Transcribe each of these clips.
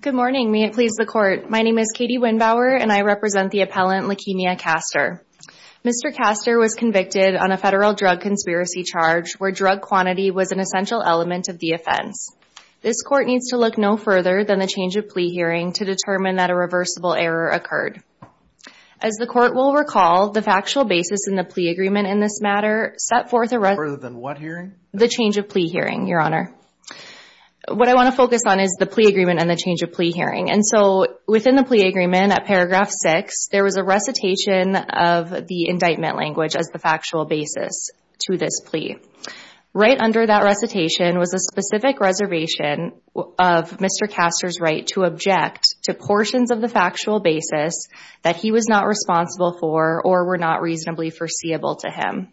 Good morning, may it please the court. My name is Katie Winnbauer and I represent the appellant Lekemia Caster Mr. Caster was convicted on a federal drug conspiracy charge where drug quantity was an essential element of the offense this court needs to look no further than the change of plea hearing to determine that a reversible error occurred as The court will recall the factual basis in the plea agreement in this matter set forth a rather than what hearing the change of plea? hearing your honor What I want to focus on is the plea agreement and the change of plea hearing and so within the plea agreement at paragraph 6 there was a recitation of the indictment language as the factual basis to this plea Right under that recitation was a specific reservation of Mr. Caster's right to object to portions of the factual basis that he was not responsible for or were not reasonably foreseeable to him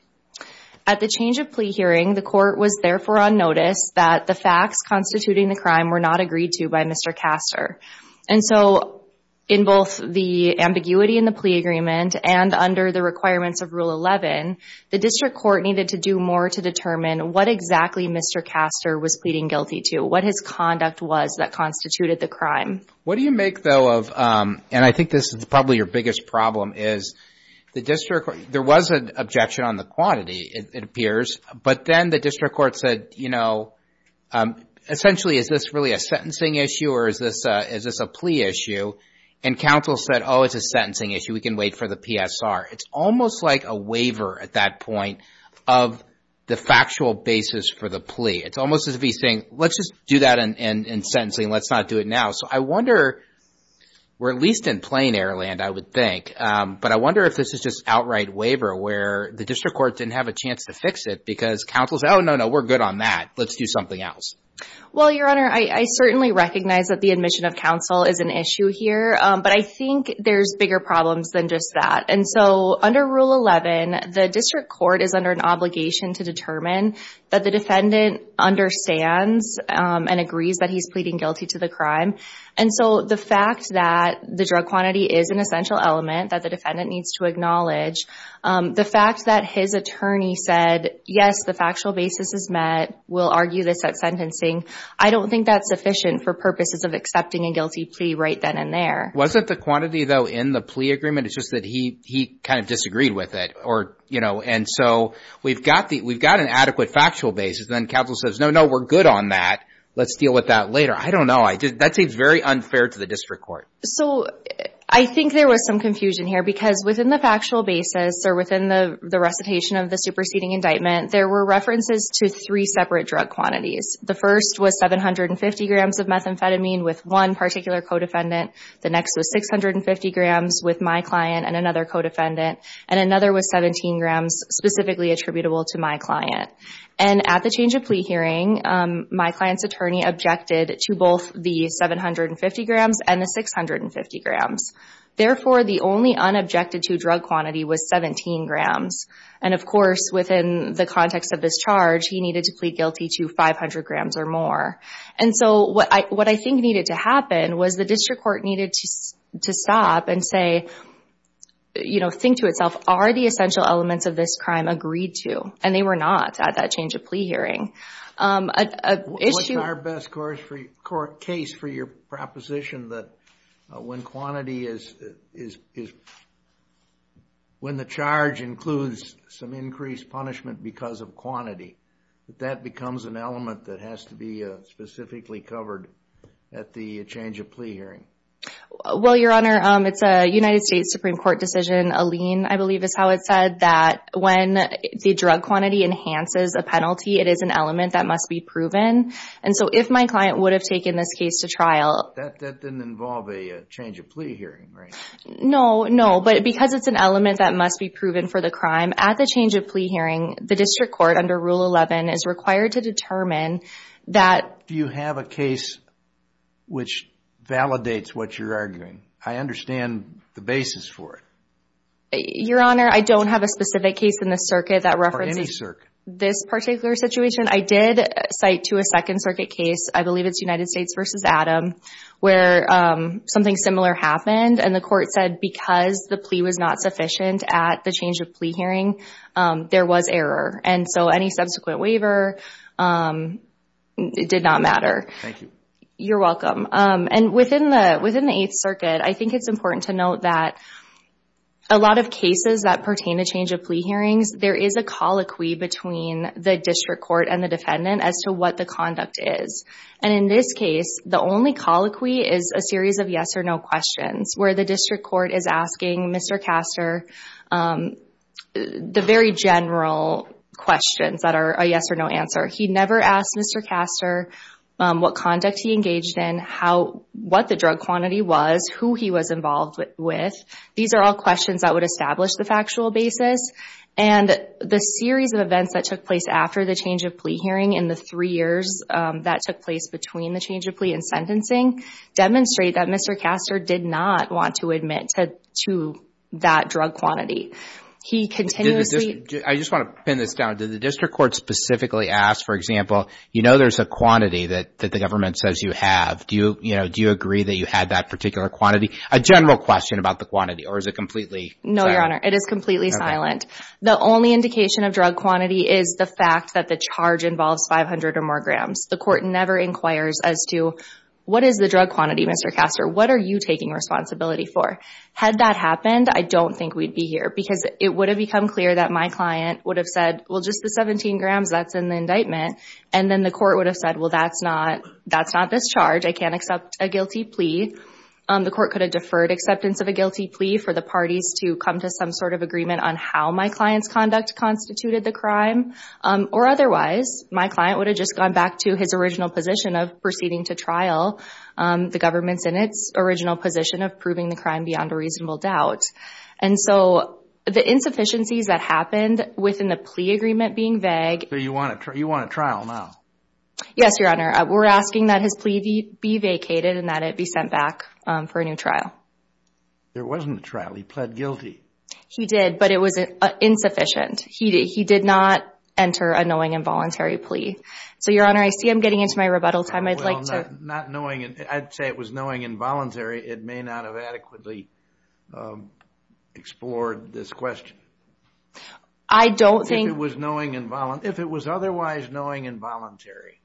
At the change of plea hearing the court was therefore on notice that the facts constituting the crime were not agreed to by mr. Caster and so in both the ambiguity in the plea agreement and under the requirements of rule 11 The district court needed to do more to determine what exactly mr. Caster was pleading guilty to what his conduct was that constituted the crime What do you make though of and I think this is probably your biggest problem is the district? There was an objection on the quantity it appears, but then the district court said you know Essentially is this really a sentencing issue or is this is this a plea issue and counsel said oh, it's a sentencing issue We can wait for the PSR. It's almost like a waiver at that point of The factual basis for the plea it's almost as if he's saying let's just do that and in sentencing Let's not do it now, so I wonder We're at least in plain air land I would think But I wonder if this is just outright waiver where the district court didn't have a chance to fix it because counsel said oh no No, we're good on that. Let's do something else Well your honor. I certainly recognize that the admission of counsel is an issue here But I think there's bigger problems than just that and so under rule 11 the district court is under an obligation to determine that the defendant Understands and agrees that he's pleading guilty to the crime and so the fact that The drug quantity is an essential element that the defendant needs to acknowledge The fact that his attorney said yes, the factual basis is met will argue this at sentencing I don't think that's sufficient for purposes of accepting a guilty plea right then and there wasn't the quantity though in the plea agreement It's just that he he kind of disagreed with it or you know and so we've got the we've got an adequate Factual basis then counsel says no no we're good on that. Let's deal with that later I don't know. I did that seems very unfair to the district court, so I think there was some confusion here because within the factual basis Or within the the recitation of the superseding indictment there were references to three separate drug quantities the first was 750 grams of methamphetamine with one particular co-defendant the next was 650 grams with my client and another co-defendant and another was 17 grams Specifically attributable to my client and at the change of plea hearing My client's attorney objected to both the 750 grams and the 650 grams Therefore the only unobjected to drug quantity was 17 grams and of course within the context of this charge He needed to plead guilty to 500 grams or more And so what I what I think needed to happen was the district court needed to stop and say You know think to itself are the essential elements of this crime agreed to and they were not at that change of plea hearing Issue our best course for your court case for your proposition that when quantity is is is When the charge includes some increased punishment because of quantity that that becomes an element that has to be specifically covered at the change of plea hearing Well your honor it's a United States Supreme Court decision a lien I believe is how it said that when the drug quantity enhances a penalty It is an element that must be proven And so if my client would have taken this case to trial that didn't involve a change of plea hearing, right? No, no But because it's an element that must be proven for the crime at the change of plea hearing the district court under Rule 11 is required to determine That do you have a case? which Validates what you're arguing? I understand the basis for it Your honor. I don't have a specific case in the circuit that references this particular situation I did cite to a Second Circuit case. I believe it's United States versus Adam where Something similar happened and the court said because the plea was not sufficient at the change of plea hearing There was error and so any subsequent waiver It did not matter You're welcome and within the within the Eighth Circuit, I think it's important to note that a lot of cases that pertain to change of plea hearings There is a colloquy between the district court and the defendant as to what the conduct is And in this case, the only colloquy is a series of yes-or-no questions where the district court is asking. Mr. Castor The very general Questions that are a yes-or-no answer. He never asked. Mr. Castor What conduct he engaged in how what the drug quantity was who he was involved with? these are all questions that would establish the factual basis and The series of events that took place after the change of plea hearing in the three years that took place between the change of plea and sentencing Demonstrate that. Mr. Castor did not want to admit to that drug quantity He continuously I just want to pin this down to the district court specifically asked for example You know, there's a quantity that that the government says you have do you you know? Do you agree that you had that particular quantity a general question about the quantity or is it completely? No, your honor. It is completely silent The only indication of drug quantity is the fact that the charge involves 500 or more grams the court never inquires as to What is the drug quantity? Mr. Castor? What are you taking responsibility for had that happened? I don't think we'd be here because it would have become clear that my client would have said well just the 17 grams That's in the indictment and then the court would have said well, that's not that's not this charge. I can't accept a guilty plea The court could have deferred acceptance of a guilty plea for the parties to come to some sort of agreement on how my clients conduct Constituted the crime or otherwise my client would have just gone back to his original position of proceeding to trial the government's in its original position of proving the crime beyond a reasonable doubt and so The insufficiencies that happened within the plea agreement being vague. Do you want to try you want a trial now? Yes, your honor. We're asking that his plea be be vacated and that it be sent back for a new trial There wasn't a trial he pled guilty He did but it was insufficient. He did he did not enter a knowing involuntary plea. So your honor I see I'm getting into my rebuttal time. I'd like to not knowing it. I'd say it was knowing involuntary. It may not have adequately Explored this question. I Don't think it was knowing involuntary if it was otherwise knowing involuntary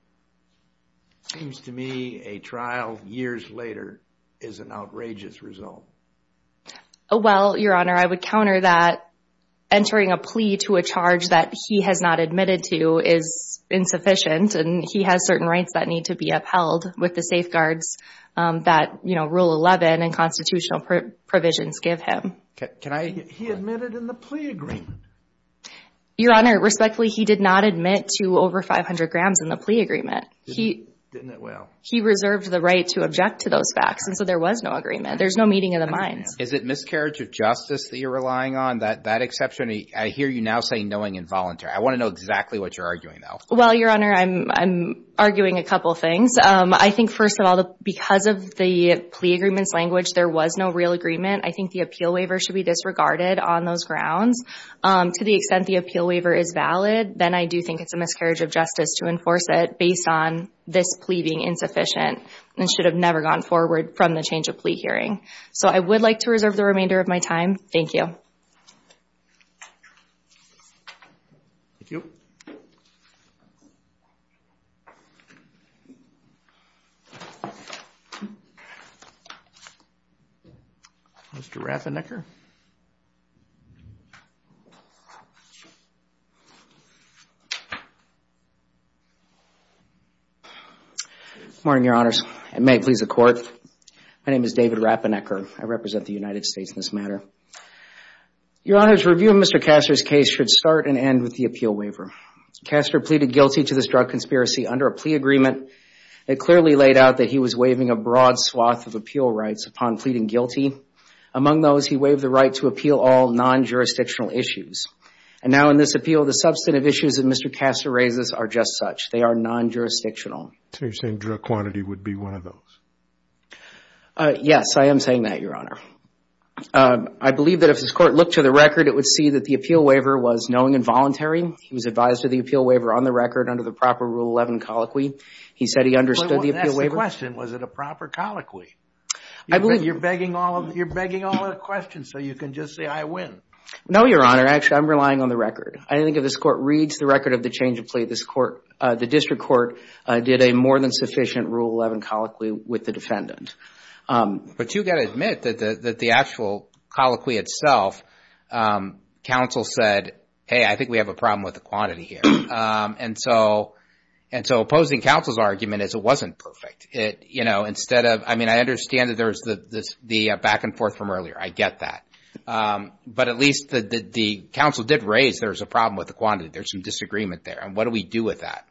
Seems to me a trial years later is an outrageous result. Oh Well, your honor, I would counter that Entering a plea to a charge that he has not admitted to is Insufficient and he has certain rights that need to be upheld with the safeguards That you know rule 11 and constitutional provisions give him Your honor respectfully he did not admit to over 500 grams in the plea agreement He he reserved the right to object to those facts. And so there was no agreement. There's no meeting of the minds Is it miscarriage of justice that you're relying on that that exception II hear you now saying knowing involuntary? I want to know exactly what you're arguing though. Well, your honor. I'm Because of the plea agreements language there was no real agreement. I think the appeal waiver should be disregarded on those grounds To the extent the appeal waiver is valid Then I do think it's a miscarriage of justice to enforce it based on this pleading Insufficient and should have never gone forward from the change of plea hearing so I would like to reserve the remainder of my time Thank you Mr. Rafferty Morning your honors and may it please the court. My name is David Rafferty. I represent the United States in this matter Your honor's review of mr. Castor's case should start and end with the appeal waiver Castor pleaded guilty to this drug conspiracy under a plea agreement It clearly laid out that he was waiving a broad swath of appeal rights upon pleading guilty Among those he waived the right to appeal all non-jurisdictional issues and now in this appeal the substantive issues of mr Castor raises are just such they are non-jurisdictional So you're saying drug quantity would be one of those? Yes, I am saying that your honor I believe that if this court looked to the record, it would see that the appeal waiver was knowing involuntary He was advised to the appeal waiver on the record under the proper rule 11 colloquy He said he understood the question. Was it a proper colloquy? I believe you're begging all of you're begging all the questions So you can just say I win. No, your honor. Actually, I'm relying on the record I don't think of this court reads the record of the change of plea this court the district court Did a more than sufficient rule 11 colloquy with the defendant? But you gotta admit that the actual colloquy itself Council said hey, I think we have a problem with the quantity here And so and so opposing counsel's argument is it wasn't perfect it, you know instead of I mean I understand that there's the this the back-and-forth from earlier. I get that But at least the the council did raise there's a problem with the quantity There's some disagreement there and what do we do with that?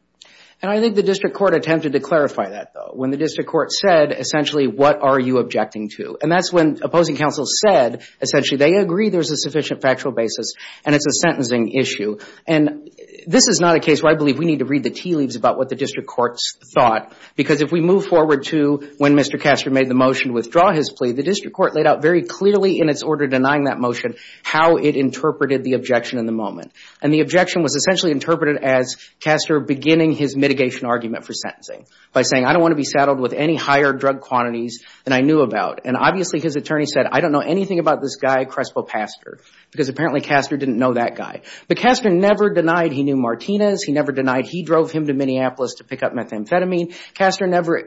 And I think the district court attempted to clarify that though when the district court said essentially What are you objecting to and that's when opposing counsel said essentially they agree there's a sufficient factual basis and it's a sentencing issue and This is not a case where I believe we need to read the tea leaves about what the district courts thought Because if we move forward to when mr Castor made the motion withdraw his plea the district court laid out very clearly in its order denying that motion how it Interpreted the objection in the moment and the objection was essentially interpreted as Castor beginning his mitigation argument for sentencing by saying I don't want to be saddled with any higher drug quantities And I knew about and obviously his attorney said I don't know anything about this guy Crespo pastor because apparently Castor didn't know that guy but Castor never denied. He knew Martinez. He never denied He drove him to Minneapolis to pick up methamphetamine Castor never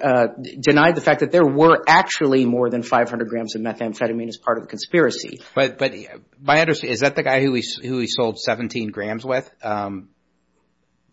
Denied the fact that there were actually more than 500 grams of methamphetamine as part of the conspiracy But but my understanding is that the guy who he sold 17 grams with?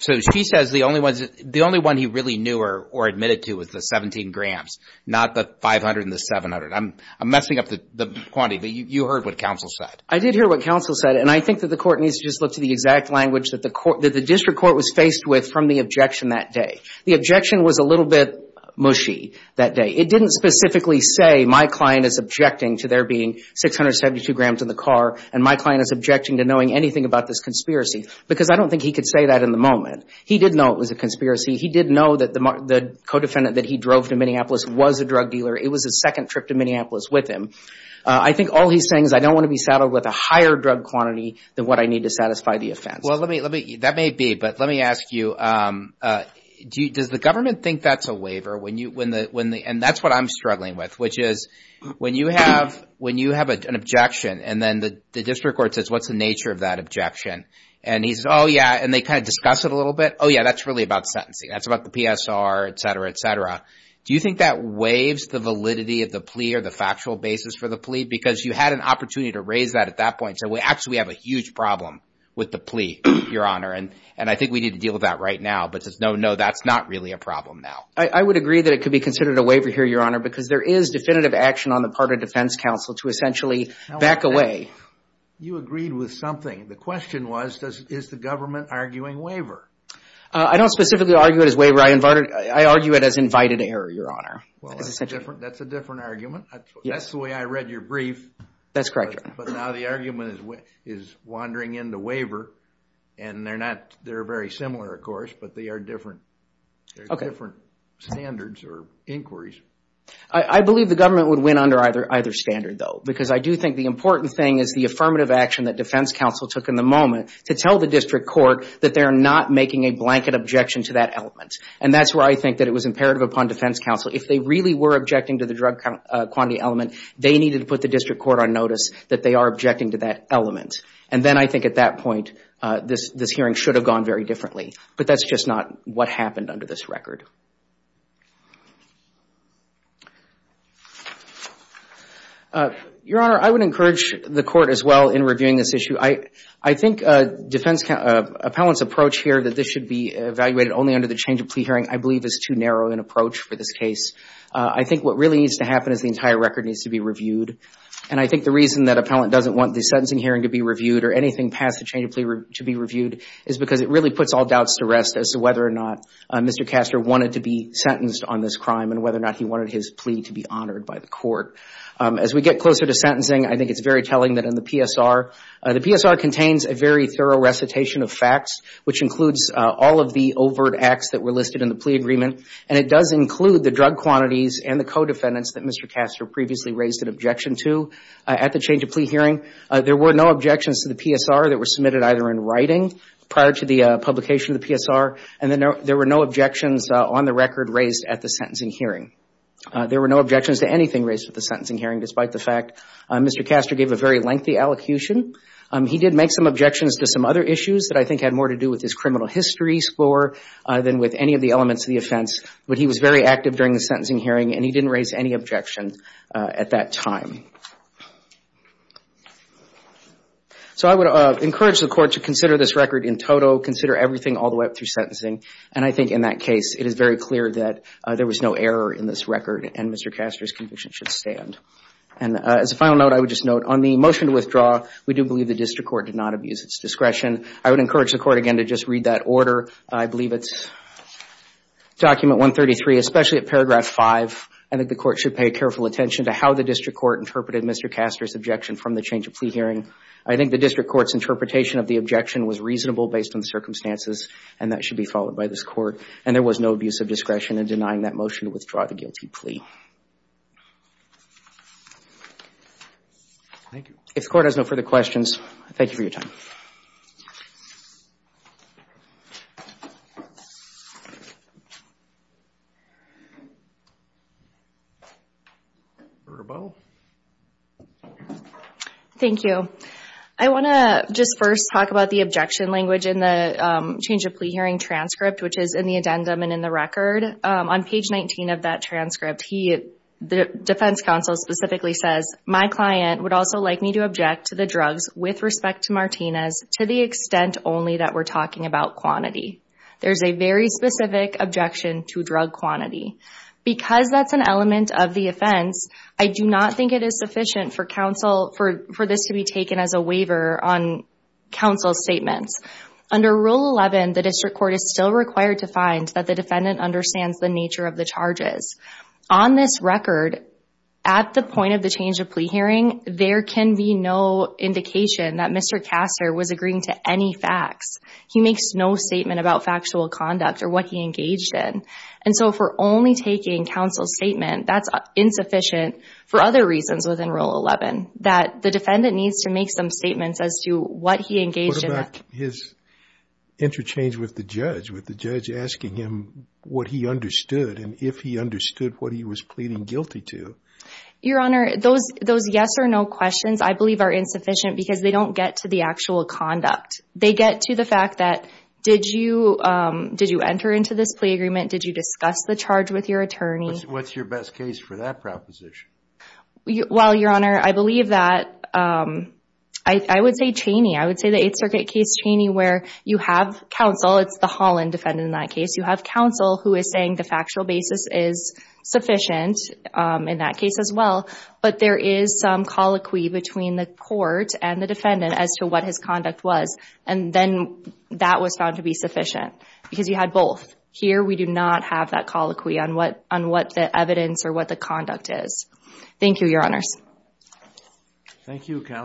So she says the only ones the only one he really knew her or admitted to was the 17 grams not the 500 and the 700 I'm I'm messing up the the quantity but you heard what counsel said I did hear what counsel said and I think that the Court needs to just look to the exact language that the court that the district court was faced with from the objection that day The objection was a little bit mushy that day It didn't specifically say my client is objecting to there being 672 grams in the car and my client is objecting to knowing anything about this conspiracy Because I don't think he could say that in the moment. He didn't know it was a conspiracy He didn't know that the the co-defendant that he drove to Minneapolis was a drug dealer It was a second trip to Minneapolis with him I think all he's saying is I don't want to be saddled with a higher drug quantity than what I need to satisfy the offense Well, let me let me that may be but let me ask you Do you does the government think that's a waiver when you win the when the and that's what I'm struggling with which is When you have when you have an objection and then the district court says what's the nature of that objection and he's oh, yeah And they kind of discuss it a little bit. Oh, yeah, that's really about sentencing. That's about the PSR, etc, etc Do you think that waives the validity of the plea or the factual basis for the plea because you had an opportunity to raise that At that point so we actually have a huge problem with the plea your honor And and I think we need to deal with that right now, but it's no no, that's not really a problem now I would agree that it could be considered a waiver here your honor because there is definitive action on the part of Defense Council to essentially back away You agreed with something. The question was does is the government arguing waiver? I don't specifically argue it as waiver I invited I argue it as invited error your honor That's a different argument. Yes way. I read your brief. That's correct But now the argument is what is wandering into waiver and they're not they're very similar, of course, but they are different Different Standards or inquiries. I believe the government would win under either either standard though because I do think the important thing is the Affirmative action that Defense Council took in the moment to tell the district court that they're not making a blanket objection to that element And that's where I think that it was imperative upon Defense Council if they really were objecting to the drug Quantity element they needed to put the district court on notice that they are objecting to that element And then I think at that point this this hearing should have gone very differently But that's just not what happened under this record Your honor I would encourage the court as well in reviewing this issue I I think defense appellants approach here that this should be evaluated only under the change of plea hearing I believe is too narrow an approach for this case I think what really needs to happen is the entire record needs to be reviewed and I think the reason that appellant doesn't want the sentencing hearing to be reviewed or anything past the change of plea to be reviewed Is because it really puts all doubts to rest as to whether or not? Mr. Castor wanted to be sentenced on this crime and whether or not he wanted his plea to be honored by the court As we get closer to sentencing, I think it's very telling that in the PSR The PSR contains a very thorough recitation of facts Which includes all of the overt acts that were listed in the plea agreement and it does include the drug quantities and the co-defendants That mr. Castor previously raised an objection to at the change of plea hearing There were no objections to the PSR that were submitted either in writing prior to the Publication of the PSR and then there were no objections on the record raised at the sentencing hearing There were no objections to anything raised with the sentencing hearing despite the fact mr. Castor gave a very lengthy allocution He did make some objections to some other issues that I think had more to do with his criminal history score Than with any of the elements of the offense, but he was very active during the sentencing hearing and he didn't raise any objection at that time So I would encourage the court to consider this record in total consider everything all the way up through sentencing and I think in that Case it is very clear that there was no error in this record and mr. Castor's conviction should stand and as a final note, I would just note on the motion to withdraw We do believe the district court did not abuse its discretion. I would encourage the court again to just read that order. I believe it's Document 133 especially at paragraph 5. I think the court should pay careful attention to how the district court interpreted Mr. Castor's objection from the change of plea hearing I think the district court's interpretation of the objection was reasonable based on the circumstances and that should be followed by this court and there was No abuse of discretion and denying that motion to withdraw the guilty plea If the court has no further questions, thank you for your time Thank you, I want to just first talk about the objection language in the change of plea hearing transcript Which is in the addendum and in the record on page 19 of that transcript He the defense counsel specifically says my client would also like me to object to the drugs with respect to Martinez To the extent only that we're talking about quantity There's a very specific objection to drug quantity because that's an element of the offense I do not think it is sufficient for counsel for for this to be taken as a waiver on Counsel's statements under rule 11 The district court is still required to find that the defendant understands the nature of the charges on this record At the point of the change of plea hearing there can be no indication that mr Castor was agreeing to any facts He makes no statement about factual conduct or what he engaged in and so for only taking counsel's statement That's insufficient for other reasons within rule 11 that the defendant needs to make some statements as to what he engaged in his Interchange with the judge with the judge asking him what he understood and if he understood what he was pleading guilty to Your honor those those yes or no questions I believe are insufficient because they don't get to the actual conduct they get to the fact that did you? Did you enter into this plea agreement? Did you discuss the charge with your attorney? What's your best case for that proposition? Well, your honor, I believe that I Would say Cheney I would say the Eighth Circuit case Cheney where you have counsel It's the Holland defendant in that case. You have counsel who is saying the factual basis is sufficient in that case as well but there is some colloquy between the court and the defendant as to what his conduct was and then That was found to be sufficient because you had both here We do not have that colloquy on what on what the evidence or what the conduct is. Thank you your honors Thank you